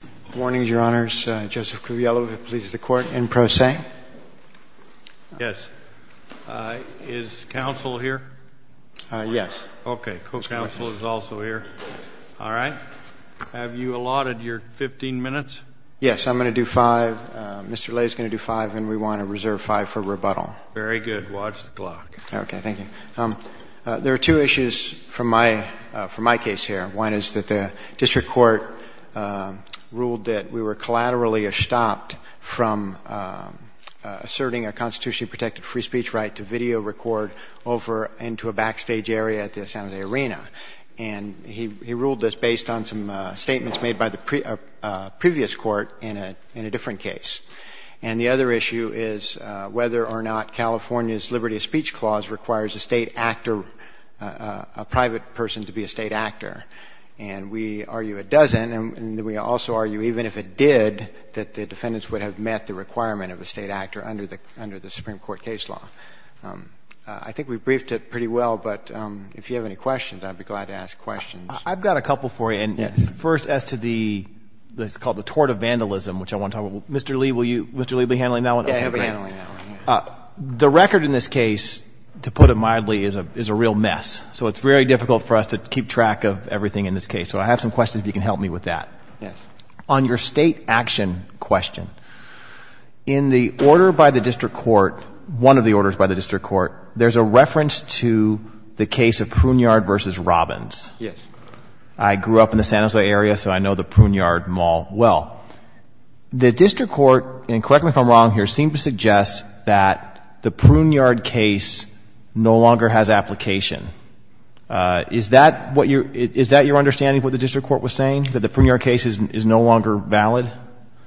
Good morning, Your Honors. Joseph Cruviello, who pleases the Court, in pro se. Yes. Is counsel here? Yes. Okay. Co-counsel is also here. All right. Have you allotted your 15 minutes? Yes. I'm going to do five. Mr. Lay is going to do five, and we want to reserve five for rebuttal. Very good. Watch the clock. Okay. Thank you. There are two issues from my case here. One is that the district court ruled that we were collaterally stopped from asserting a constitutionally protected free speech right to video record over into a backstage area at the Asante Arena. And he ruled this based on some statements made by the previous court in a different case. And the other issue is whether or not California's Liberty of Speech Clause requires a state actor, a private person, to be a state actor. And we argue it doesn't, and we also argue even if it did, that the defendants would have met the requirement of a state actor under the Supreme Court case law. I think we've briefed it pretty well, but if you have any questions, I'd be glad to ask questions. I've got a couple for you. And first as to the, it's called the tort of vandalism, which I want to talk about. Mr. Lee, will you, Mr. Lee, be handling that one? Yeah, he'll be handling that one. The record in this case, to put it mildly, is a real mess. So it's very difficult for us to keep track of everything in this case. So I have some questions if you can help me with that. Yes. On your state action question, in the order by the district court, one of the orders by the district court, there's a reference to the case of Pruniard v. Robbins. Yes. I grew up in the San Jose area, so I know the Pruniard mall well. The district court, and correct me if I'm wrong here, seems to suggest that the Pruniard case no longer has application. Is that what your, is that your understanding of what the district court was saying, that the Pruniard case is no longer valid?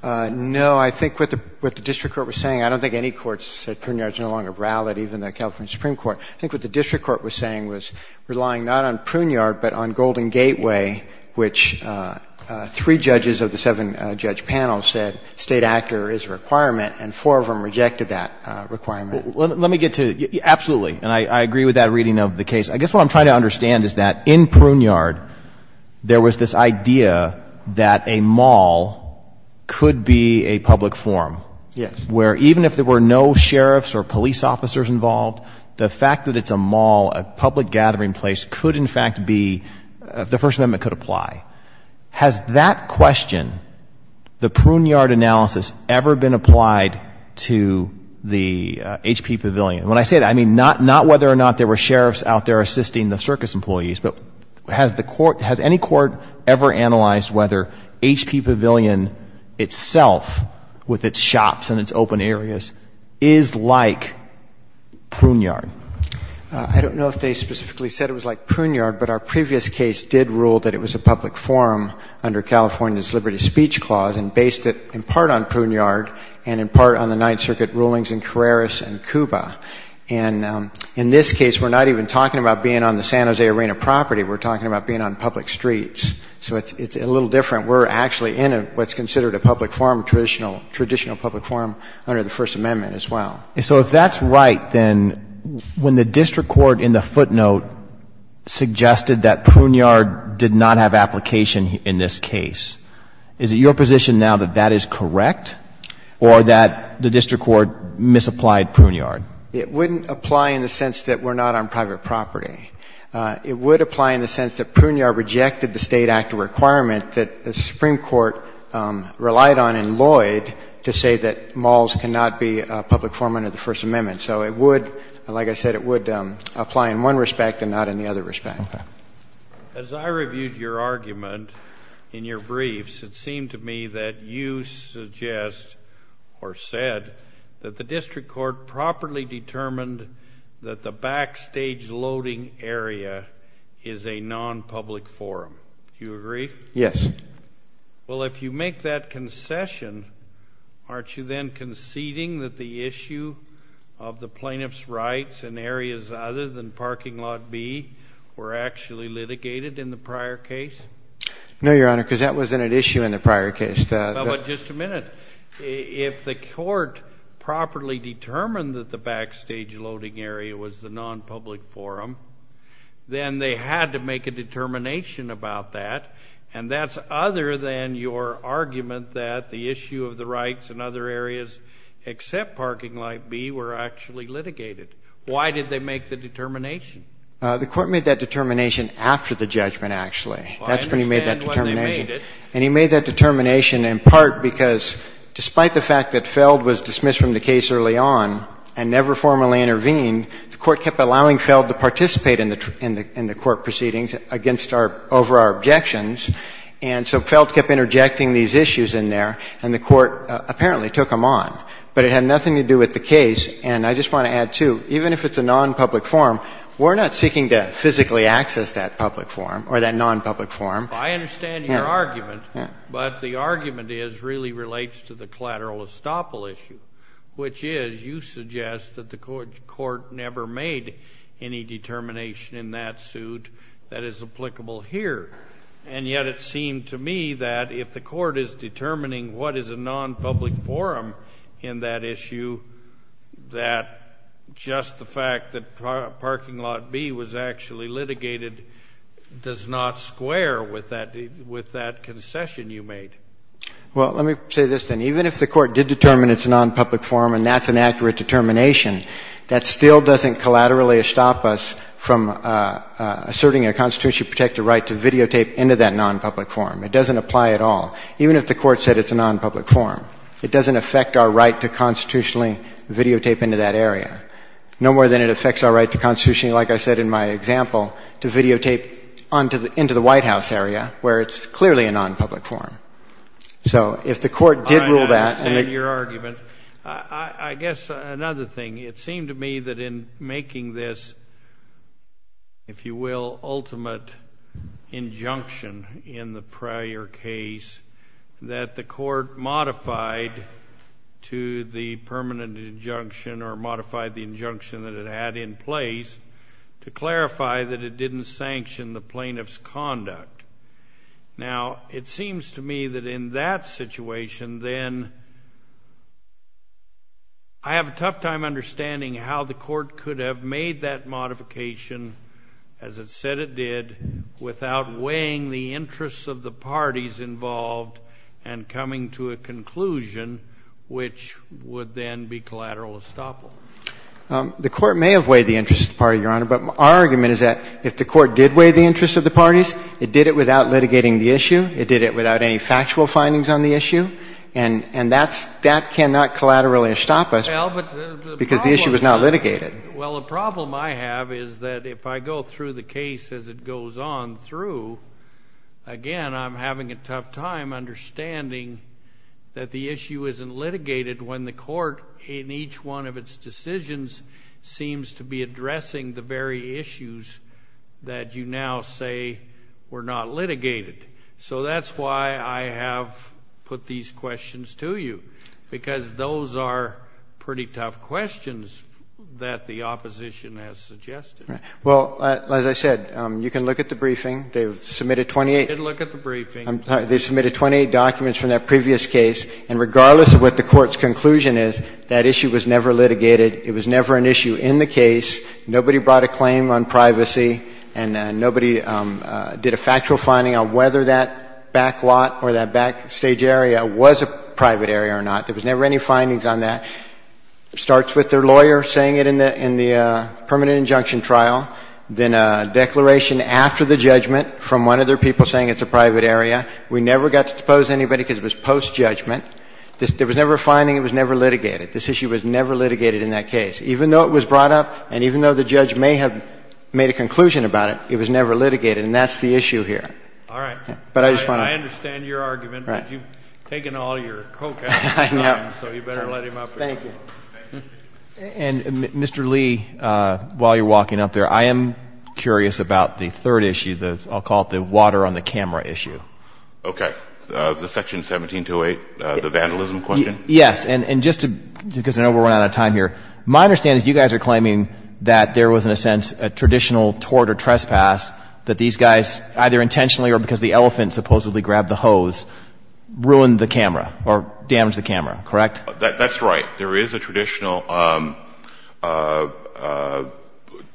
No. I think what the district court was saying, I don't think any court said Pruniard is no longer valid, even the California Supreme Court. I think what the district court was saying was relying not on Pruniard but on Golden Gateway, which three judges of the seven-judge panel said State actor is a requirement and four of them rejected that requirement. Let me get to, absolutely, and I agree with that reading of the case. I guess what I'm trying to understand is that in Pruniard there was this idea that a mall could be a public forum. Yes. Where even if there were no sheriffs or police officers involved, the fact that it's a mall, a public gathering place, could in fact be, the First Amendment could apply. Has that question, the Pruniard analysis, ever been applied to the H.P. Pavilion? When I say that, I mean not whether or not there were sheriffs out there assisting the circus employees, but has the court, has any court ever analyzed whether H.P. Pavilion or any of the other open areas is like Pruniard? I don't know if they specifically said it was like Pruniard, but our previous case did rule that it was a public forum under California's Liberty Speech Clause and based it in part on Pruniard and in part on the Ninth Circuit rulings in Carreras and Cuba. And in this case, we're not even talking about being on the San Jose Arena property. We're talking about being on public streets. So it's a little different. We're actually in what's considered a public forum, traditional public forum under the First Amendment as well. And so if that's right, then when the district court in the footnote suggested that Pruniard did not have application in this case, is it your position now that that is correct or that the district court misapplied Pruniard? It wouldn't apply in the sense that we're not on private property. It would apply in the sense that Pruniard rejected the State Act requirement that the Supreme Court relied on in Lloyd to say that malls cannot be a public forum under the First Amendment. So it would, like I said, it would apply in one respect and not in the other respect. As I reviewed your argument in your briefs, it seemed to me that you suggest or said that the district court properly determined that the backstage loading area is a non-public forum. Do you agree? Yes. Well, if you make that concession, aren't you then conceding that the issue of the plaintiff's rights in areas other than parking lot B were actually litigated in the prior case? No, Your Honor, because that wasn't an issue in the prior case. But just a minute. If the court properly determined that the backstage loading area was the non-public forum, then they had to make a determination about that. And that's other than your argument that the issue of the rights in other areas except parking lot B were actually litigated. Why did they make the determination? The court made that determination after the judgment, actually. That's when he made that determination. And he made that determination in part because despite the fact that Feld was dismissed from the case early on and never formally intervened, the court kept allowing Feld to participate in the court proceedings against our — over our objections. And so Feld kept interjecting these issues in there, and the court apparently took them on. But it had nothing to do with the case. And I just want to add, too, even if it's a non-public forum, we're not seeking to physically access that public forum or that non-public forum. I understand your argument, but the argument really relates to the collateral estoppel issue, which is you suggest that the court never made any determination in that suit that is applicable here. And yet it seemed to me that if the court is determining what is a non-public forum in that issue, that just the fact that parking lot B was actually litigated does not square with that concession you made. Well, let me say this, then. Even if the court did determine it's a non-public forum and that's an accurate determination, that still doesn't collaterally estop us from asserting a constitutionally protected right to videotape into that non-public forum. It doesn't apply at all. Even if the court said it's a non-public forum, it doesn't affect our right to constitutionally videotape into that area, no more than it affects our right to constitutionally, like I said in my example, to videotape into the White House area, where it's clearly a non-public forum. So if the court did rule that... I understand your argument. I guess another thing, it seemed to me that in making this, if you will, ultimate injunction in the prior case, that the court modified to the permanent injunction or modified the statute to clarify that it didn't sanction the plaintiff's conduct. Now, it seems to me that in that situation, then, I have a tough time understanding how the court could have made that modification, as it said it did, without weighing the interests of the parties involved and coming to a conclusion which would then be collateral estoppel. The court may have weighed the interests of the party, Your Honor, but our argument is that if the court did weigh the interests of the parties, it did it without litigating the issue, it did it without any factual findings on the issue, and that cannot collateral estoppel because the issue was not litigated. Well, the problem I have is that if I go through the case as it goes on through, again, I'm having a tough time understanding that the issue isn't litigated when the court in each one of its decisions seems to be addressing the very issues that you now say were not litigated. So that's why I have put these questions to you, because those are pretty tough questions that the opposition has suggested. Right. Well, as I said, you can look at the briefing. They've submitted 28. I did look at the briefing. I'm sorry. They submitted 28 documents from that previous case, and regardless of what the court's conclusion is, that issue was never litigated. It was never an issue in the case. Nobody brought a claim on privacy, and nobody did a factual finding on whether that back lot or that backstage area was a private area or not. There was never any findings on that. It starts with their lawyer saying it in the permanent injunction trial, then a declaration after the judgment from one of their people saying it's a private area. We never got to depose anybody because it was post-judgment. There was never a finding. It was never litigated. This issue was never litigated in that case. Even though it was brought up and even though the judge may have made a conclusion about it, it was never litigated, and that's the issue here. All right. But I just want to — I understand your argument, but you've taken all your co-counsel's time, so you better let him up here. Thank you. And, Mr. Lee, while you're walking up there, I am curious about the third issue, the I'll call it the water on the camera issue. Okay. The section 1728, the vandalism question. Yes. And just to — because I know we're running out of time here. My understanding is you guys are claiming that there was, in a sense, a traditional tort or trespass that these guys either intentionally or because the elephant supposedly grabbed the hose ruined the camera or damaged the camera, correct? That's right. There is a traditional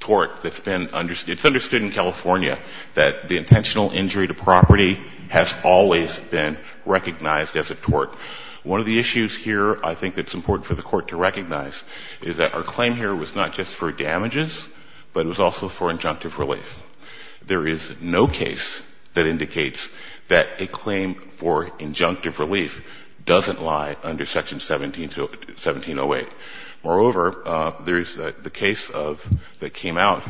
tort that's been — it's understood in California that the intentional injury to property has always been recognized as a tort. One of the issues here I think that's important for the Court to recognize is that our claim here was not just for damages, but it was also for injunctive relief. There is no case that indicates that a claim for injunctive relief doesn't lie under section 1708. Moreover, there is the case of — that came out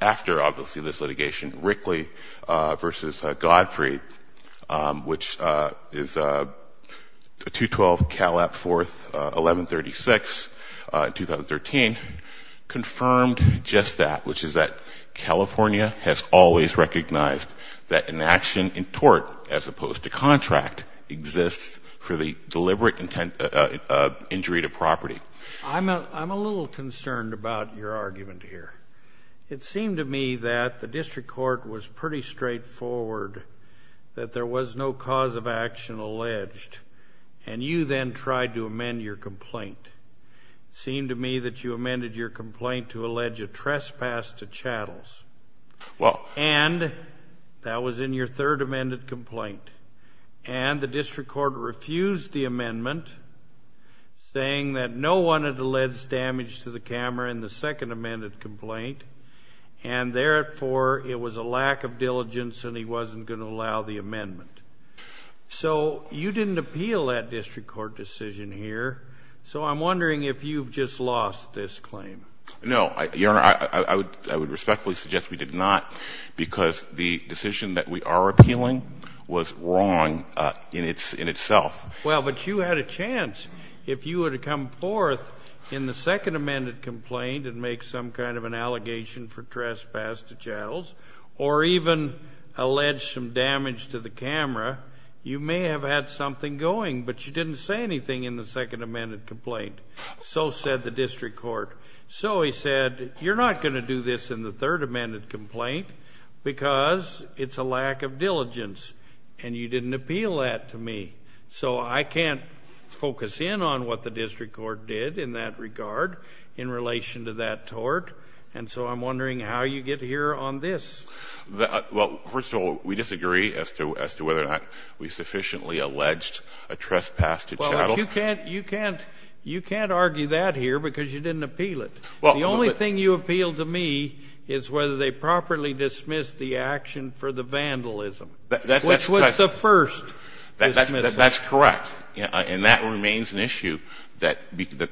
after, obviously, this litigation, Rickley v. Godfrey, which is 212 Calap 4th, 1136, 2013, confirmed just that, which is that California has always recognized that an action in tort as opposed to contract exists for the deliberate injury to property. I'm a little concerned about your argument here. It seemed to me that the district court was pretty straightforward, that there was no cause of action alleged, and you then tried to amend your complaint. It seemed to me that you amended your complaint to allege a trespass to chattels. Well — And that was in your third amended complaint. And the district court refused the amendment, saying that no one had alleged damage to the camera in the second amended complaint, and therefore it was a lack of diligence and he wasn't going to allow the amendment. So you didn't appeal that district court decision here, so I'm wondering if you've just lost this claim. No, Your Honor, I would respectfully suggest we did not, because the decision that we are appealing was wrong in itself. Well, but you had a chance. If you were to come forth in the second amended complaint and make some kind of an allegation for trespass to chattels, or even allege some damage to the camera, you may have had something going, but you didn't say anything in the second amended complaint. So said the district court. So he said, you're not going to do this in the third amended complaint because it's a lack of diligence, and you didn't appeal that to me. So I can't focus in on what the district court did in that regard in relation to that tort, and so I'm wondering how you get here on this. Well, first of all, we disagree as to whether or not we sufficiently alleged a trespass to chattels. You can't argue that here because you didn't appeal it. The only thing you appealed to me is whether they properly dismissed the action for the vandalism, which was the first dismissal. That's correct. And that remains an issue that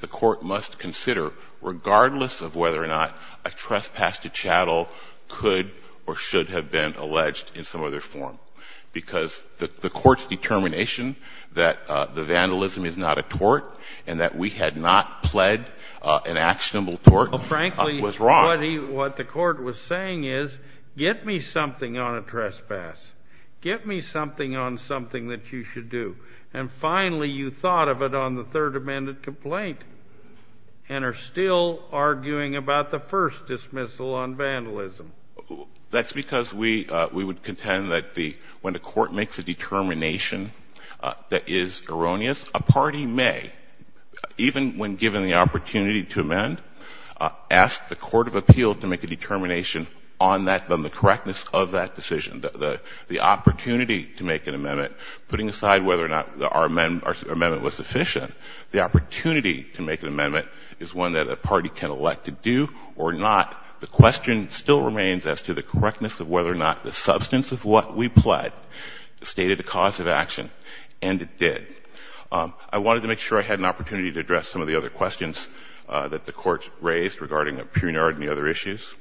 the court must consider, regardless of whether or not a trespass to chattel could or should have been alleged in some other form, because the court's determination that the vandalism is not a tort and that we had not pled an actionable tort was wrong. Frankly, what the court was saying is, get me something on a trespass. Get me something on something that you should do. And finally, you thought of it on the third amended complaint and are still arguing about the first dismissal on vandalism. That's because we would contend that the – when the court makes a determination that is erroneous, a party may, even when given the opportunity to amend, ask the court of appeal to make a determination on that, on the correctness of that decision. The opportunity to make an amendment, putting aside whether or not our amendment was sufficient, the opportunity to make an amendment is one that a party can elect to do or not. The question still remains as to the correctness of whether or not the substance of what we pled stated a cause of action, and it did. I wanted to make sure I had an opportunity to address some of the other questions that the Court raised regarding Pruniard and the other issues.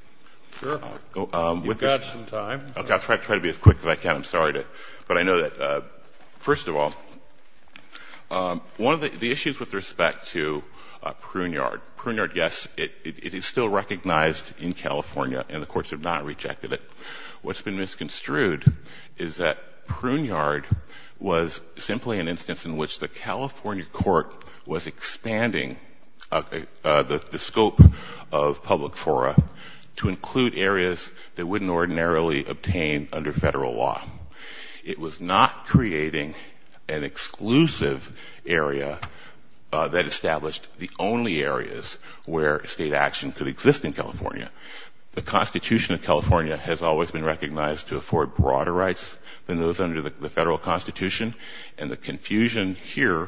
Scalia. Sure. You've got some time. I'll try to be as quick as I can. I'm sorry. But I know that, first of all, one of the issues with respect to Pruniard, Pruniard, yes, it is still recognized in California and the courts have not rejected it. What's been misconstrued is that Pruniard was simply an instance in which the California court was expanding the scope of public fora to include areas that wouldn't ordinarily obtain under Federal law. It was not creating an exclusive area that established the only areas where State action could exist in California. The Constitution of California has always been recognized to afford broader rights than those under the Federal Constitution, and the confusion here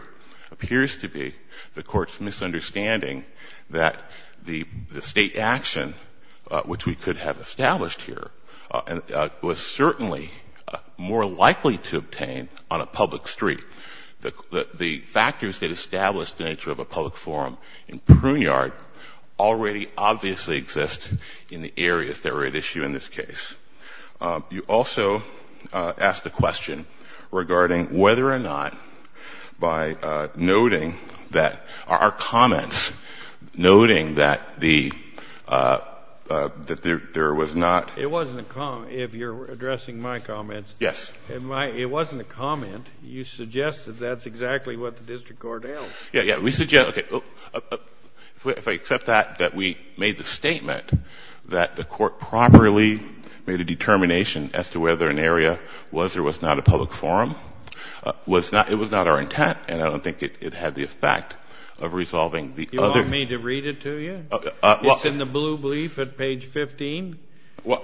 appears to be the Court's misunderstanding that the State action, which we could have established here, was certainly more likely to obtain on a public street. The factors that established the nature of a public forum in Pruniard already obviously exist in the areas that are at issue in this case. You also asked a question regarding whether or not by noting that our comments, noting that the, that there was not. It wasn't a comment. If you're addressing my comments. Yes. It wasn't a comment. You suggested that's exactly what the district court held. Yeah, yeah. We suggested, okay. If I accept that, that we made the statement that the Court properly made a determination as to whether an area was or was not a public forum, was not, it was not our intent and I don't think it had the effect of resolving the other. You want me to read it to you? It's in the blue brief at page 15. No,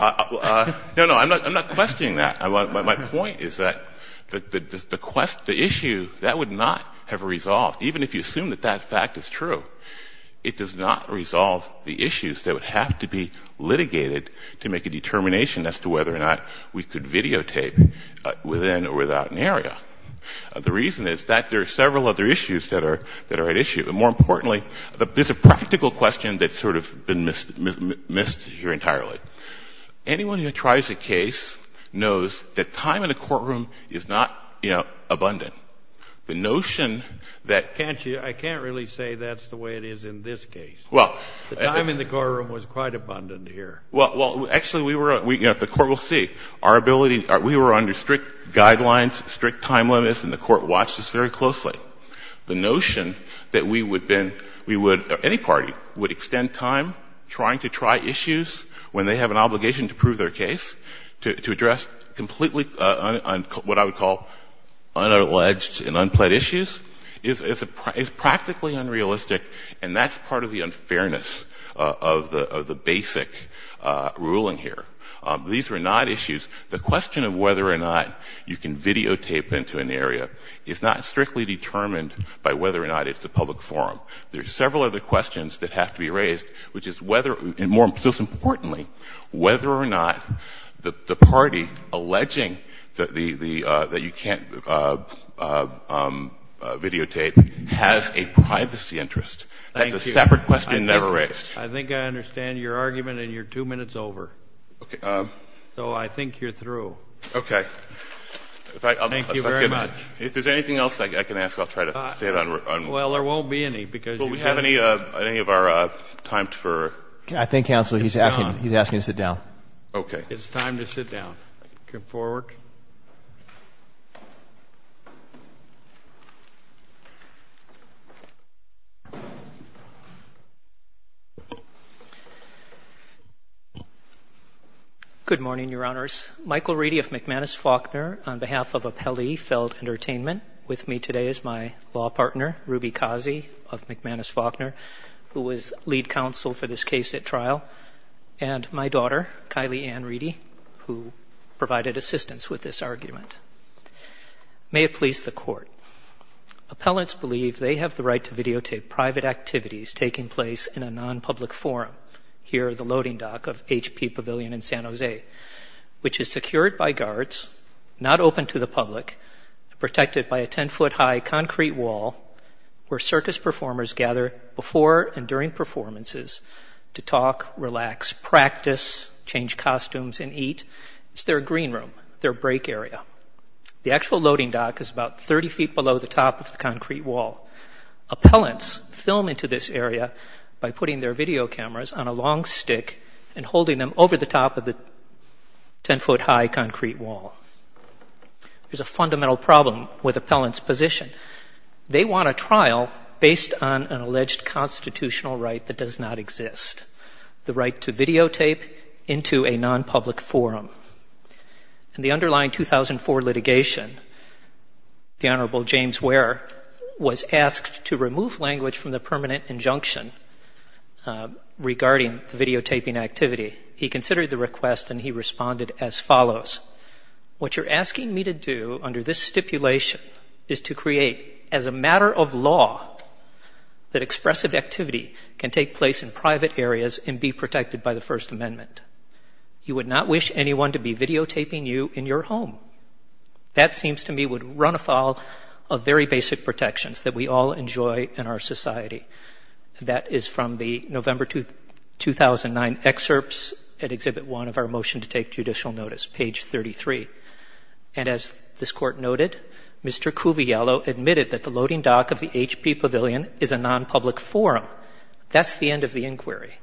no, I'm not questioning that. My point is that the issue, that would not have resolved, even if you assume that that fact is true. It does not resolve the issues that would have to be litigated to make a determination as to whether or not we could videotape within or without an area. The reason is that there are several other issues that are, that are at issue. But more importantly, there's a practical question that's sort of been missed, missed here entirely. Anyone who tries a case knows that time in the courtroom is not, you know, abundant. The notion that. Can't you, I can't really say that's the way it is in this case. Well. The time in the courtroom was quite abundant here. Well, well, actually we were, you know, the Court will see. Our ability, we were under strict guidelines, strict time limits, and the Court watched this very closely. The notion that we would then, we would, any party would extend time trying to try issues when they have an obligation to prove their case, to address completely what I would call unalleged and unplaid issues is practically unrealistic, and that's part of the unfairness of the basic ruling here. These were not issues. The question of whether or not you can videotape into an area is not strictly determined by whether or not it's a public forum. There are several other questions that have to be raised, which is whether, and more, most importantly, whether or not the party alleging that you can't videotape has a privacy interest. Thank you. That's a separate question never raised. I think I understand your argument, and you're two minutes over. Okay. So I think you're through. Okay. Thank you very much. If there's anything else I can ask, I'll try to stay on. Well, there won't be any, because you have. Do we have any of our time for. I think, Counselor, he's asking to sit down. Okay. It's time to sit down. Come forward. Good morning, Your Honors. Michael Reedy of McManus-Faulkner, on behalf of Appellee Feld Entertainment, with me today is my law partner, Ruby Kazi of McManus-Faulkner, who was lead counsel for this case at trial, and my daughter, Kylie Ann Reedy, who provided assistance with this argument. May it please the Court. Appellants believe they have the right to videotape private activities taking place in a non-public forum, here at the loading dock of H.P. Pavilion in San Jose, which is secured by guards, not open to the public, protected by a 10-foot high concrete wall where circus performers gather before and during performances to talk, relax, practice, change costumes, and eat. It's their green room, their break area. The actual loading dock is about 30 feet below the top of the concrete wall. Appellants film into this area by putting their video cameras on a long stick and holding them over the top of the 10-foot high concrete wall. There's a fundamental problem with appellants' position. They want a trial based on an alleged constitutional right that does not exist, the right to videotape into a non-public forum. In the underlying 2004 litigation, the Honorable James Ware was asked to remove language from the permanent injunction regarding the videotaping activity. He considered the request and he responded as follows. What you're asking me to do under this stipulation is to create, as a matter of law, that expressive activity can take place in private areas and be protected by the First Amendment. You would not wish anyone to be videotaping you in your home. That seems to me would run afoul of very basic protections that we all enjoy in our society. That is from the November 2009 excerpts at Exhibit 1 of our motion to take judicial notice, page 33. And as this Court noted, Mr. Cuviello admitted that the loading dock of the HP Pavilion is a non-public forum. That's the end of the inquiry.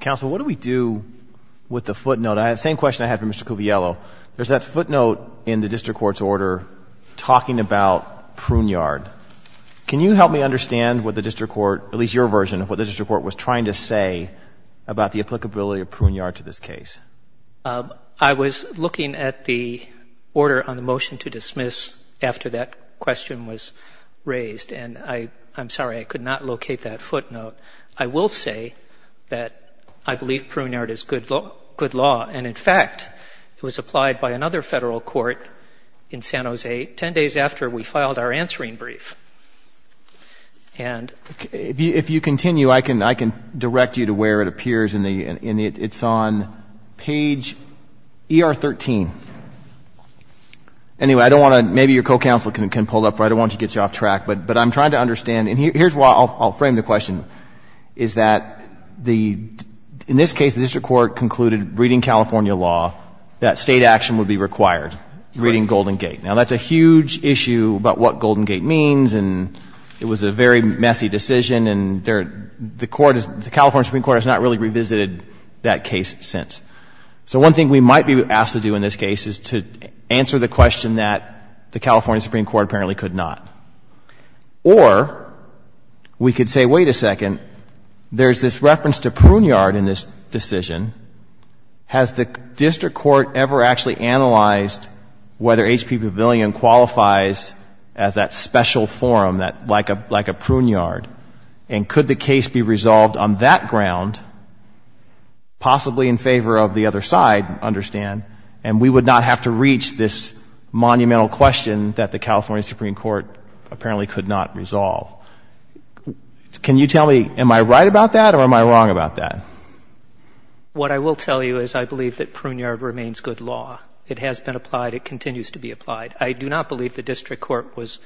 Counsel, what do we do with the footnote? I have the same question I had for Mr. Cuviello. There's that footnote in the district court's order talking about Pruneyard. Can you help me understand what the district court, at least your version of what the district court was trying to say about the applicability of Pruneyard to this case? I was looking at the order on the motion to dismiss after that question was raised, and I'm sorry, I could not locate that footnote. I will say that I believe Pruneyard is good law, and in fact, it was applied by another federal court in San Jose 10 days after we filed our answering brief. If you continue, I can direct you to where it appears. It's on page ER 13. Anyway, I don't want to, maybe your co-counsel can pull it up. I don't want to get you off track, but I'm trying to understand. And here's where I'll frame the question, is that the — in this case, the district court concluded, reading California law, that State action would be required, reading Golden Gate. Now, that's a huge issue about what Golden Gate means, and it was a very messy decision, and the court is — the California Supreme Court has not really revisited that case since. So one thing we might be asked to do in this case is to answer the question that the California Supreme Court apparently could not. Or we could say, wait a second, there's this reference to Pruneyard in this decision. Has the district court ever actually analyzed whether HP Pavilion qualifies as that special forum, like a Pruneyard? And could the case be resolved on that ground, possibly in favor of the other side, understand, and we would not have to reach this monumental question that the California Supreme Court apparently could not resolve. Can you tell me, am I right about that, or am I wrong about that? What I will tell you is I believe that Pruneyard remains good law. It has been applied. It continues to be applied. I do not believe the district court was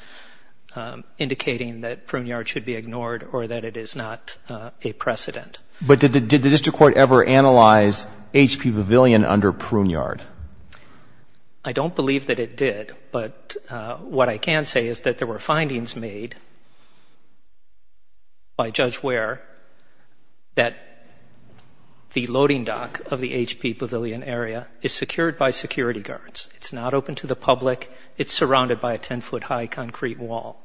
indicating that Pruneyard should be ignored or that it is not a precedent. But did the district court ever analyze HP Pavilion under Pruneyard? I don't believe that it did, but what I can say is that there were findings made by Judge Ware that the loading dock of the HP Pavilion area is secured by security guards. It's not open to the public. It's surrounded by a ten-foot-high concrete wall.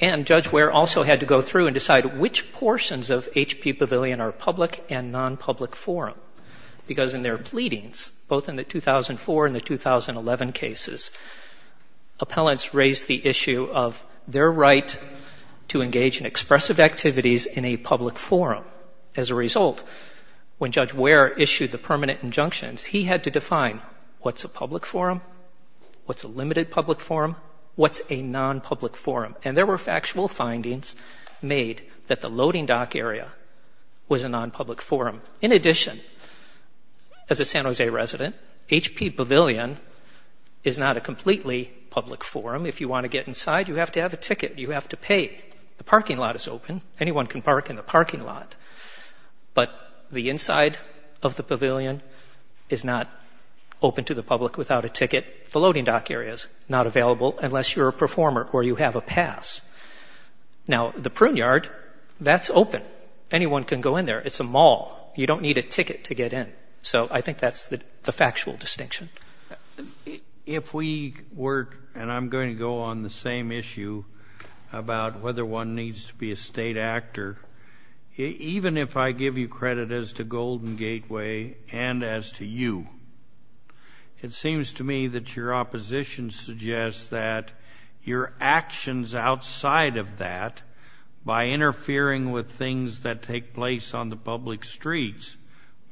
And Judge Ware also had to go through and decide which portions of HP Pavilion are public and non-public forum. Because in their pleadings, both in the 2004 and the 2011 cases, appellants raised the issue of their right to engage in expressive activities in a public forum. As a result, when Judge Ware issued the permanent injunctions, he had to define what's a public forum, what's a limited public forum, what's a non-public forum. And there were factual findings made that the loading dock area was a non-public forum. In addition, as a San Jose resident, HP Pavilion is not a completely public forum. If you want to get inside, you have to have a ticket. You have to pay. The parking lot is open. Anyone can park in the parking lot. But the inside of the pavilion is not open to the public without a ticket. The loading dock area is not available unless you're a performer or you have a pass. Now, the Pruneyard, that's open. Anyone can go in there. It's a mall. You don't need a ticket to get in. So I think that's the factual distinction. If we were, and I'm going to go on the same issue about whether one needs to be a state actor, even if I give you credit as to Golden Gateway and as to you, it seems to me that your opposition suggests that your actions outside of that, by interfering with things that take place on the public streets,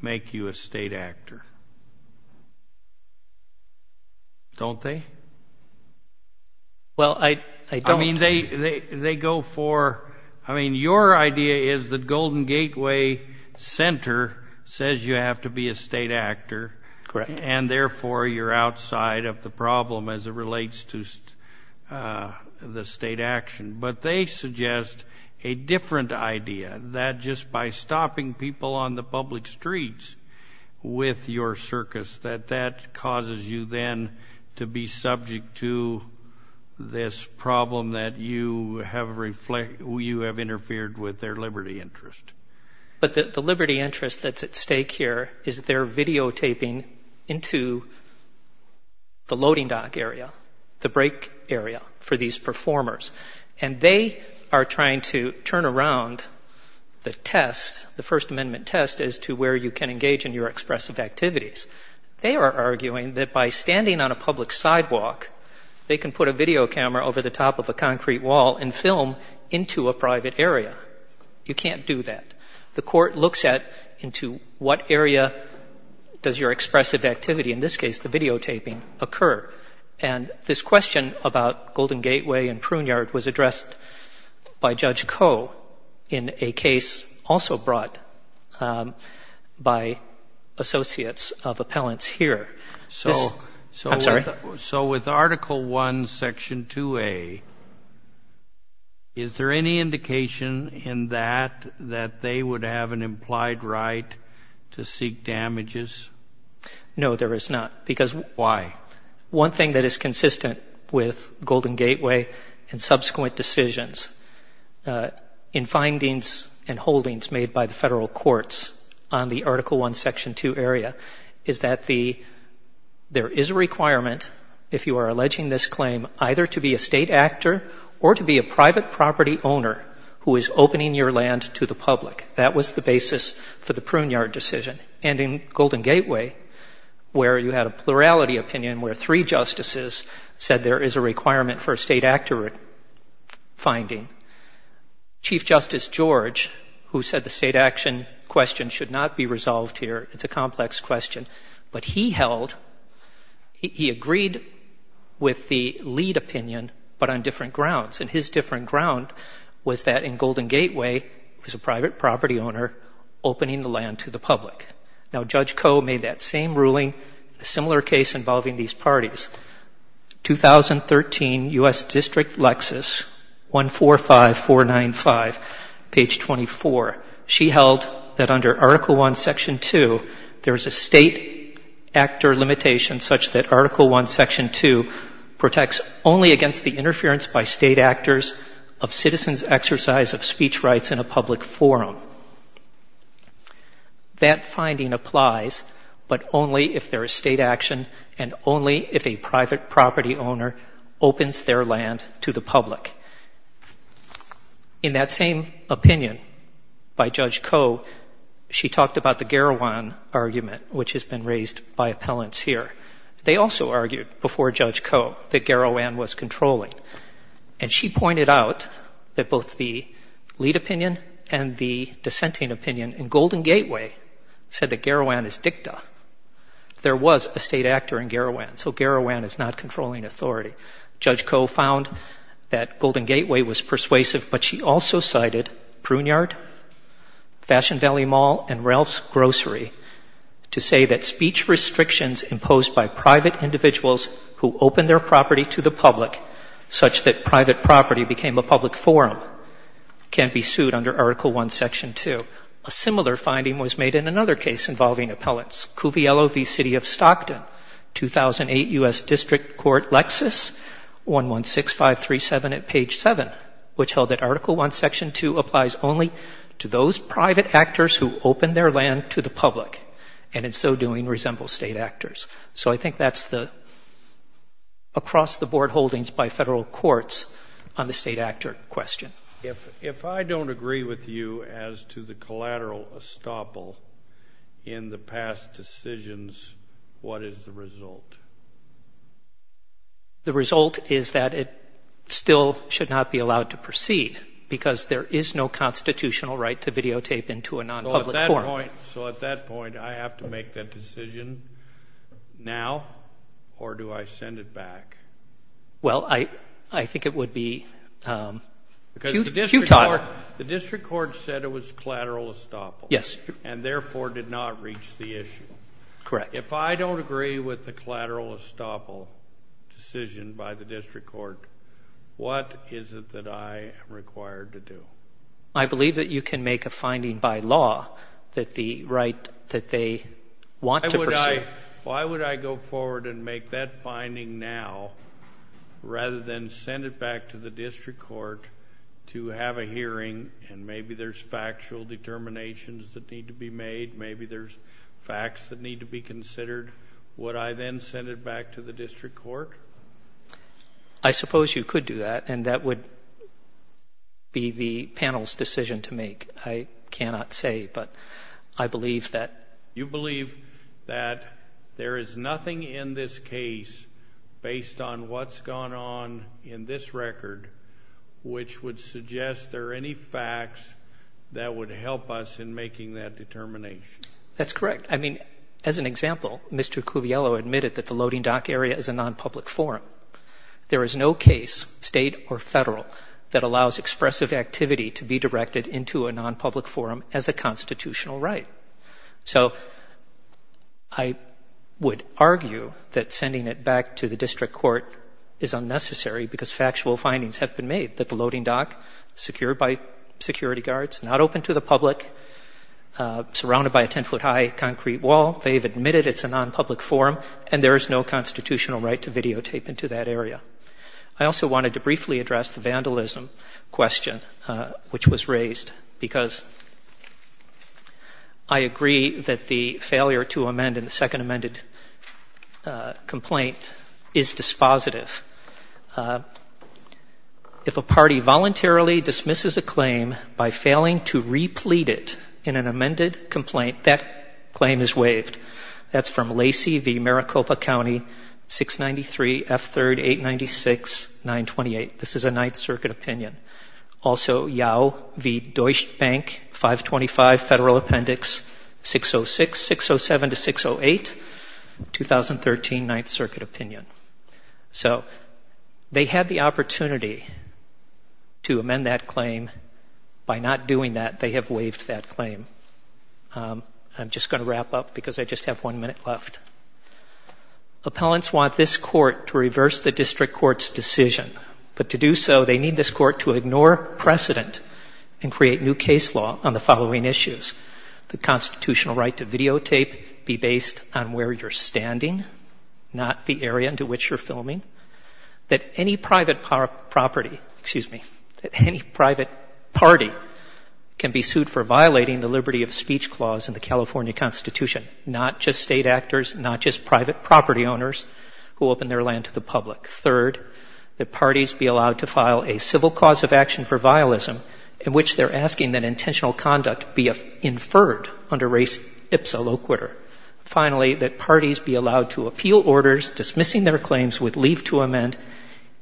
make you a state actor. Don't they? Well, I don't. I mean, they go for, I mean, your idea is that Golden Gateway Center says you have to be a state actor. Correct. And therefore, you're outside of the problem as it relates to the state action. But they suggest a different idea, that just by stopping people on the public streets with your circus, that that causes you then to be subject to this problem that you have interfered with their liberty interest. But the liberty interest that's at stake here is they're videotaping into the loading dock area, the break area for these performers. And they are trying to turn around the test, the First Amendment test, as to where you can engage in your expressive activities. They are arguing that by standing on a public sidewalk, they can put a video camera over the top of a concrete wall and film into a private area. You can't do that. The court looks at into what area does your expressive activity, in this case the videotaping, occur. And this question about Golden Gateway and Pruneyard was addressed by Judge Koh in a case also brought by associates of appellants here. I'm sorry? So with Article I, Section 2A, is there any indication in that that they would have an implied right to seek damages? No, there is not. Why? One thing that is consistent with Golden Gateway and subsequent decisions in findings and holdings made by the federal courts on the Article I, Section 2 area is that there is a requirement, if you are alleging this claim, either to be a state actor or to be a private property owner who is opening your land to the public. That was the basis for the Pruneyard decision. And in Golden Gateway, where you had a plurality opinion where three justices said there is a requirement for a state actor finding, Chief Justice George, who said the state action question should not be resolved here, it's a complex question, but he held, he agreed with the lead opinion but on different grounds. And his different ground was that in Golden Gateway, it was a private property owner opening the land to the public. Now, Judge Koh made that same ruling in a similar case involving these parties. 2013 U.S. District Lexis, 145495, page 24. She held that under Article I, Section 2, there is a state actor limitation such that Article I, of citizens' exercise of speech rights in a public forum. That finding applies, but only if there is state action and only if a private property owner opens their land to the public. In that same opinion by Judge Koh, she talked about the Garawan argument, which has been raised by appellants here. They also argued before Judge Koh that Garawan was controlling. And she pointed out that both the lead opinion and the dissenting opinion in Golden Gateway said that Garawan is dicta. There was a state actor in Garawan, so Garawan is not controlling authority. Judge Koh found that Golden Gateway was persuasive, but she also cited Pruneyard, Fashion Valley Mall, and Ralph's Grocery to say that speech restrictions imposed by private individuals who open their property to the public, such that private property became a public forum, can't be sued under Article I, Section 2. A similar finding was made in another case involving appellants, Cuviello v. City of Stockton, 2008 U.S. District Court Lexis, 116537 at page 7, which held that Article I, Section 2 applies only to those private actors who open their land to the public, and in so doing resemble state actors. So I think that's the across-the-board holdings by federal courts on the state actor question. If I don't agree with you as to the collateral estoppel in the past decisions, what is the result? The result is that it still should not be allowed to proceed, because there is no constitutional right to videotape into a nonpublic forum. So at that point, I have to make that decision now, or do I send it back? Well, I think it would be futile. Because the District Court said it was collateral estoppel, and therefore did not reach the issue. Correct. If I don't agree with the collateral estoppel decision by the District Court, what is it that I am required to do? I believe that you can make a finding by law that the right that they want to pursue Why would I go forward and make that finding now, rather than send it back to the District Court to have a hearing, and maybe there's factual determinations that need to be made, maybe there's facts that need to be considered? Would I then send it back to the District Court? I suppose you could do that, and that would be the panel's decision to make. I cannot say, but I believe that You believe that there is nothing in this case, based on what's gone on in this record, which would suggest there are any facts that would help us in making that determination? That's correct. There is no case, state or federal, that allows expressive activity to be directed into a non-public forum as a constitutional right. So I would argue that sending it back to the District Court is unnecessary, because factual findings have been made, that the loading dock, secured by security guards, not open to the public, surrounded by a 10-foot-high concrete wall, they've admitted it's a non-public forum, and there is no constitutional right to videotape into that area. I also wanted to briefly address the vandalism question which was raised, because I agree that the failure to amend in the second amended complaint is dispositive. If a party voluntarily dismisses a claim by failing to replete it in an amended complaint, that claim is waived. That's from Lacey v. Maricopa County, 693 F3rd 896 928. This is a Ninth Circuit opinion. Also, Yao v. Deutsche Bank, 525 Federal Appendix 606, 607 to 608, 2013 Ninth Circuit opinion. So they had the opportunity to amend that claim. By not doing that, they have waived that claim. I'm just going to wrap up, because I just have one minute left. Appellants want this Court to reverse the District Court's decision, but to do so, they need this Court to ignore precedent and create new case law on the following issues. The constitutional right to videotape be based on where you're standing, not the area into which you're filming. That any private property, excuse me, that any private party can be sued for violating the Liberal Democratic Convention. That there be a liberty of speech clause in the California Constitution, not just state actors, not just private property owners who open their land to the public. Third, that parties be allowed to file a civil cause of action for violism in which they're asking that intentional conduct be inferred under race ipsa loquitur. Finally, that parties be allowed to appeal orders dismissing their claims with leave to amend,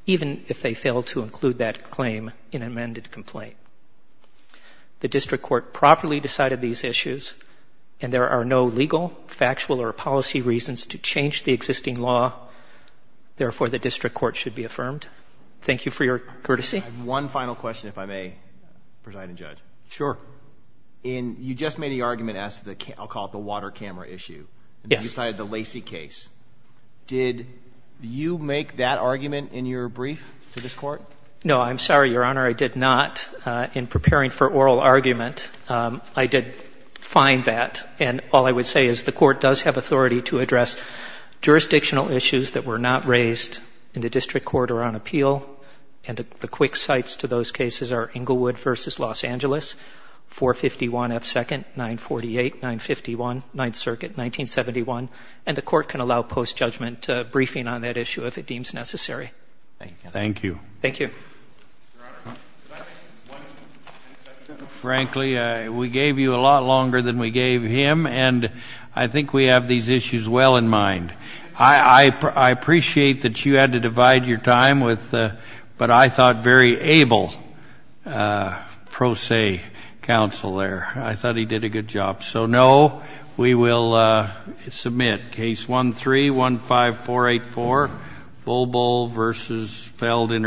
even if they fail to include that claim in an amended complaint. The District Court properly decided these issues, and there are no legal, factual, or policy reasons to change the existing law. Therefore, the District Court should be affirmed. Thank you for your courtesy. One final question, if I may, Presiding Judge. Sure. In, you just made the argument as to the, I'll call it the water camera issue, and you decided the Lacey case, did you make that argument in your brief to this Court? No, I'm sorry, Your Honor, I did not. In preparing for oral argument, I did find that, and all I would say is the Court does have authority to address jurisdictional issues that were not raised in the District Court or on appeal, and the quick sights to those cases are Inglewood versus Los Angeles. 451 F. 2nd, 948, 951, Ninth Circuit, 1971, and the Court can allow post-judgment briefing on that issue if it deems necessary. Thank you. Frankly, we gave you a lot longer than we gave him, and I think we have these issues well in mind. I appreciate that you had to divide your time with what I thought very able pro se, but I think we have these issues well in mind. Thank you.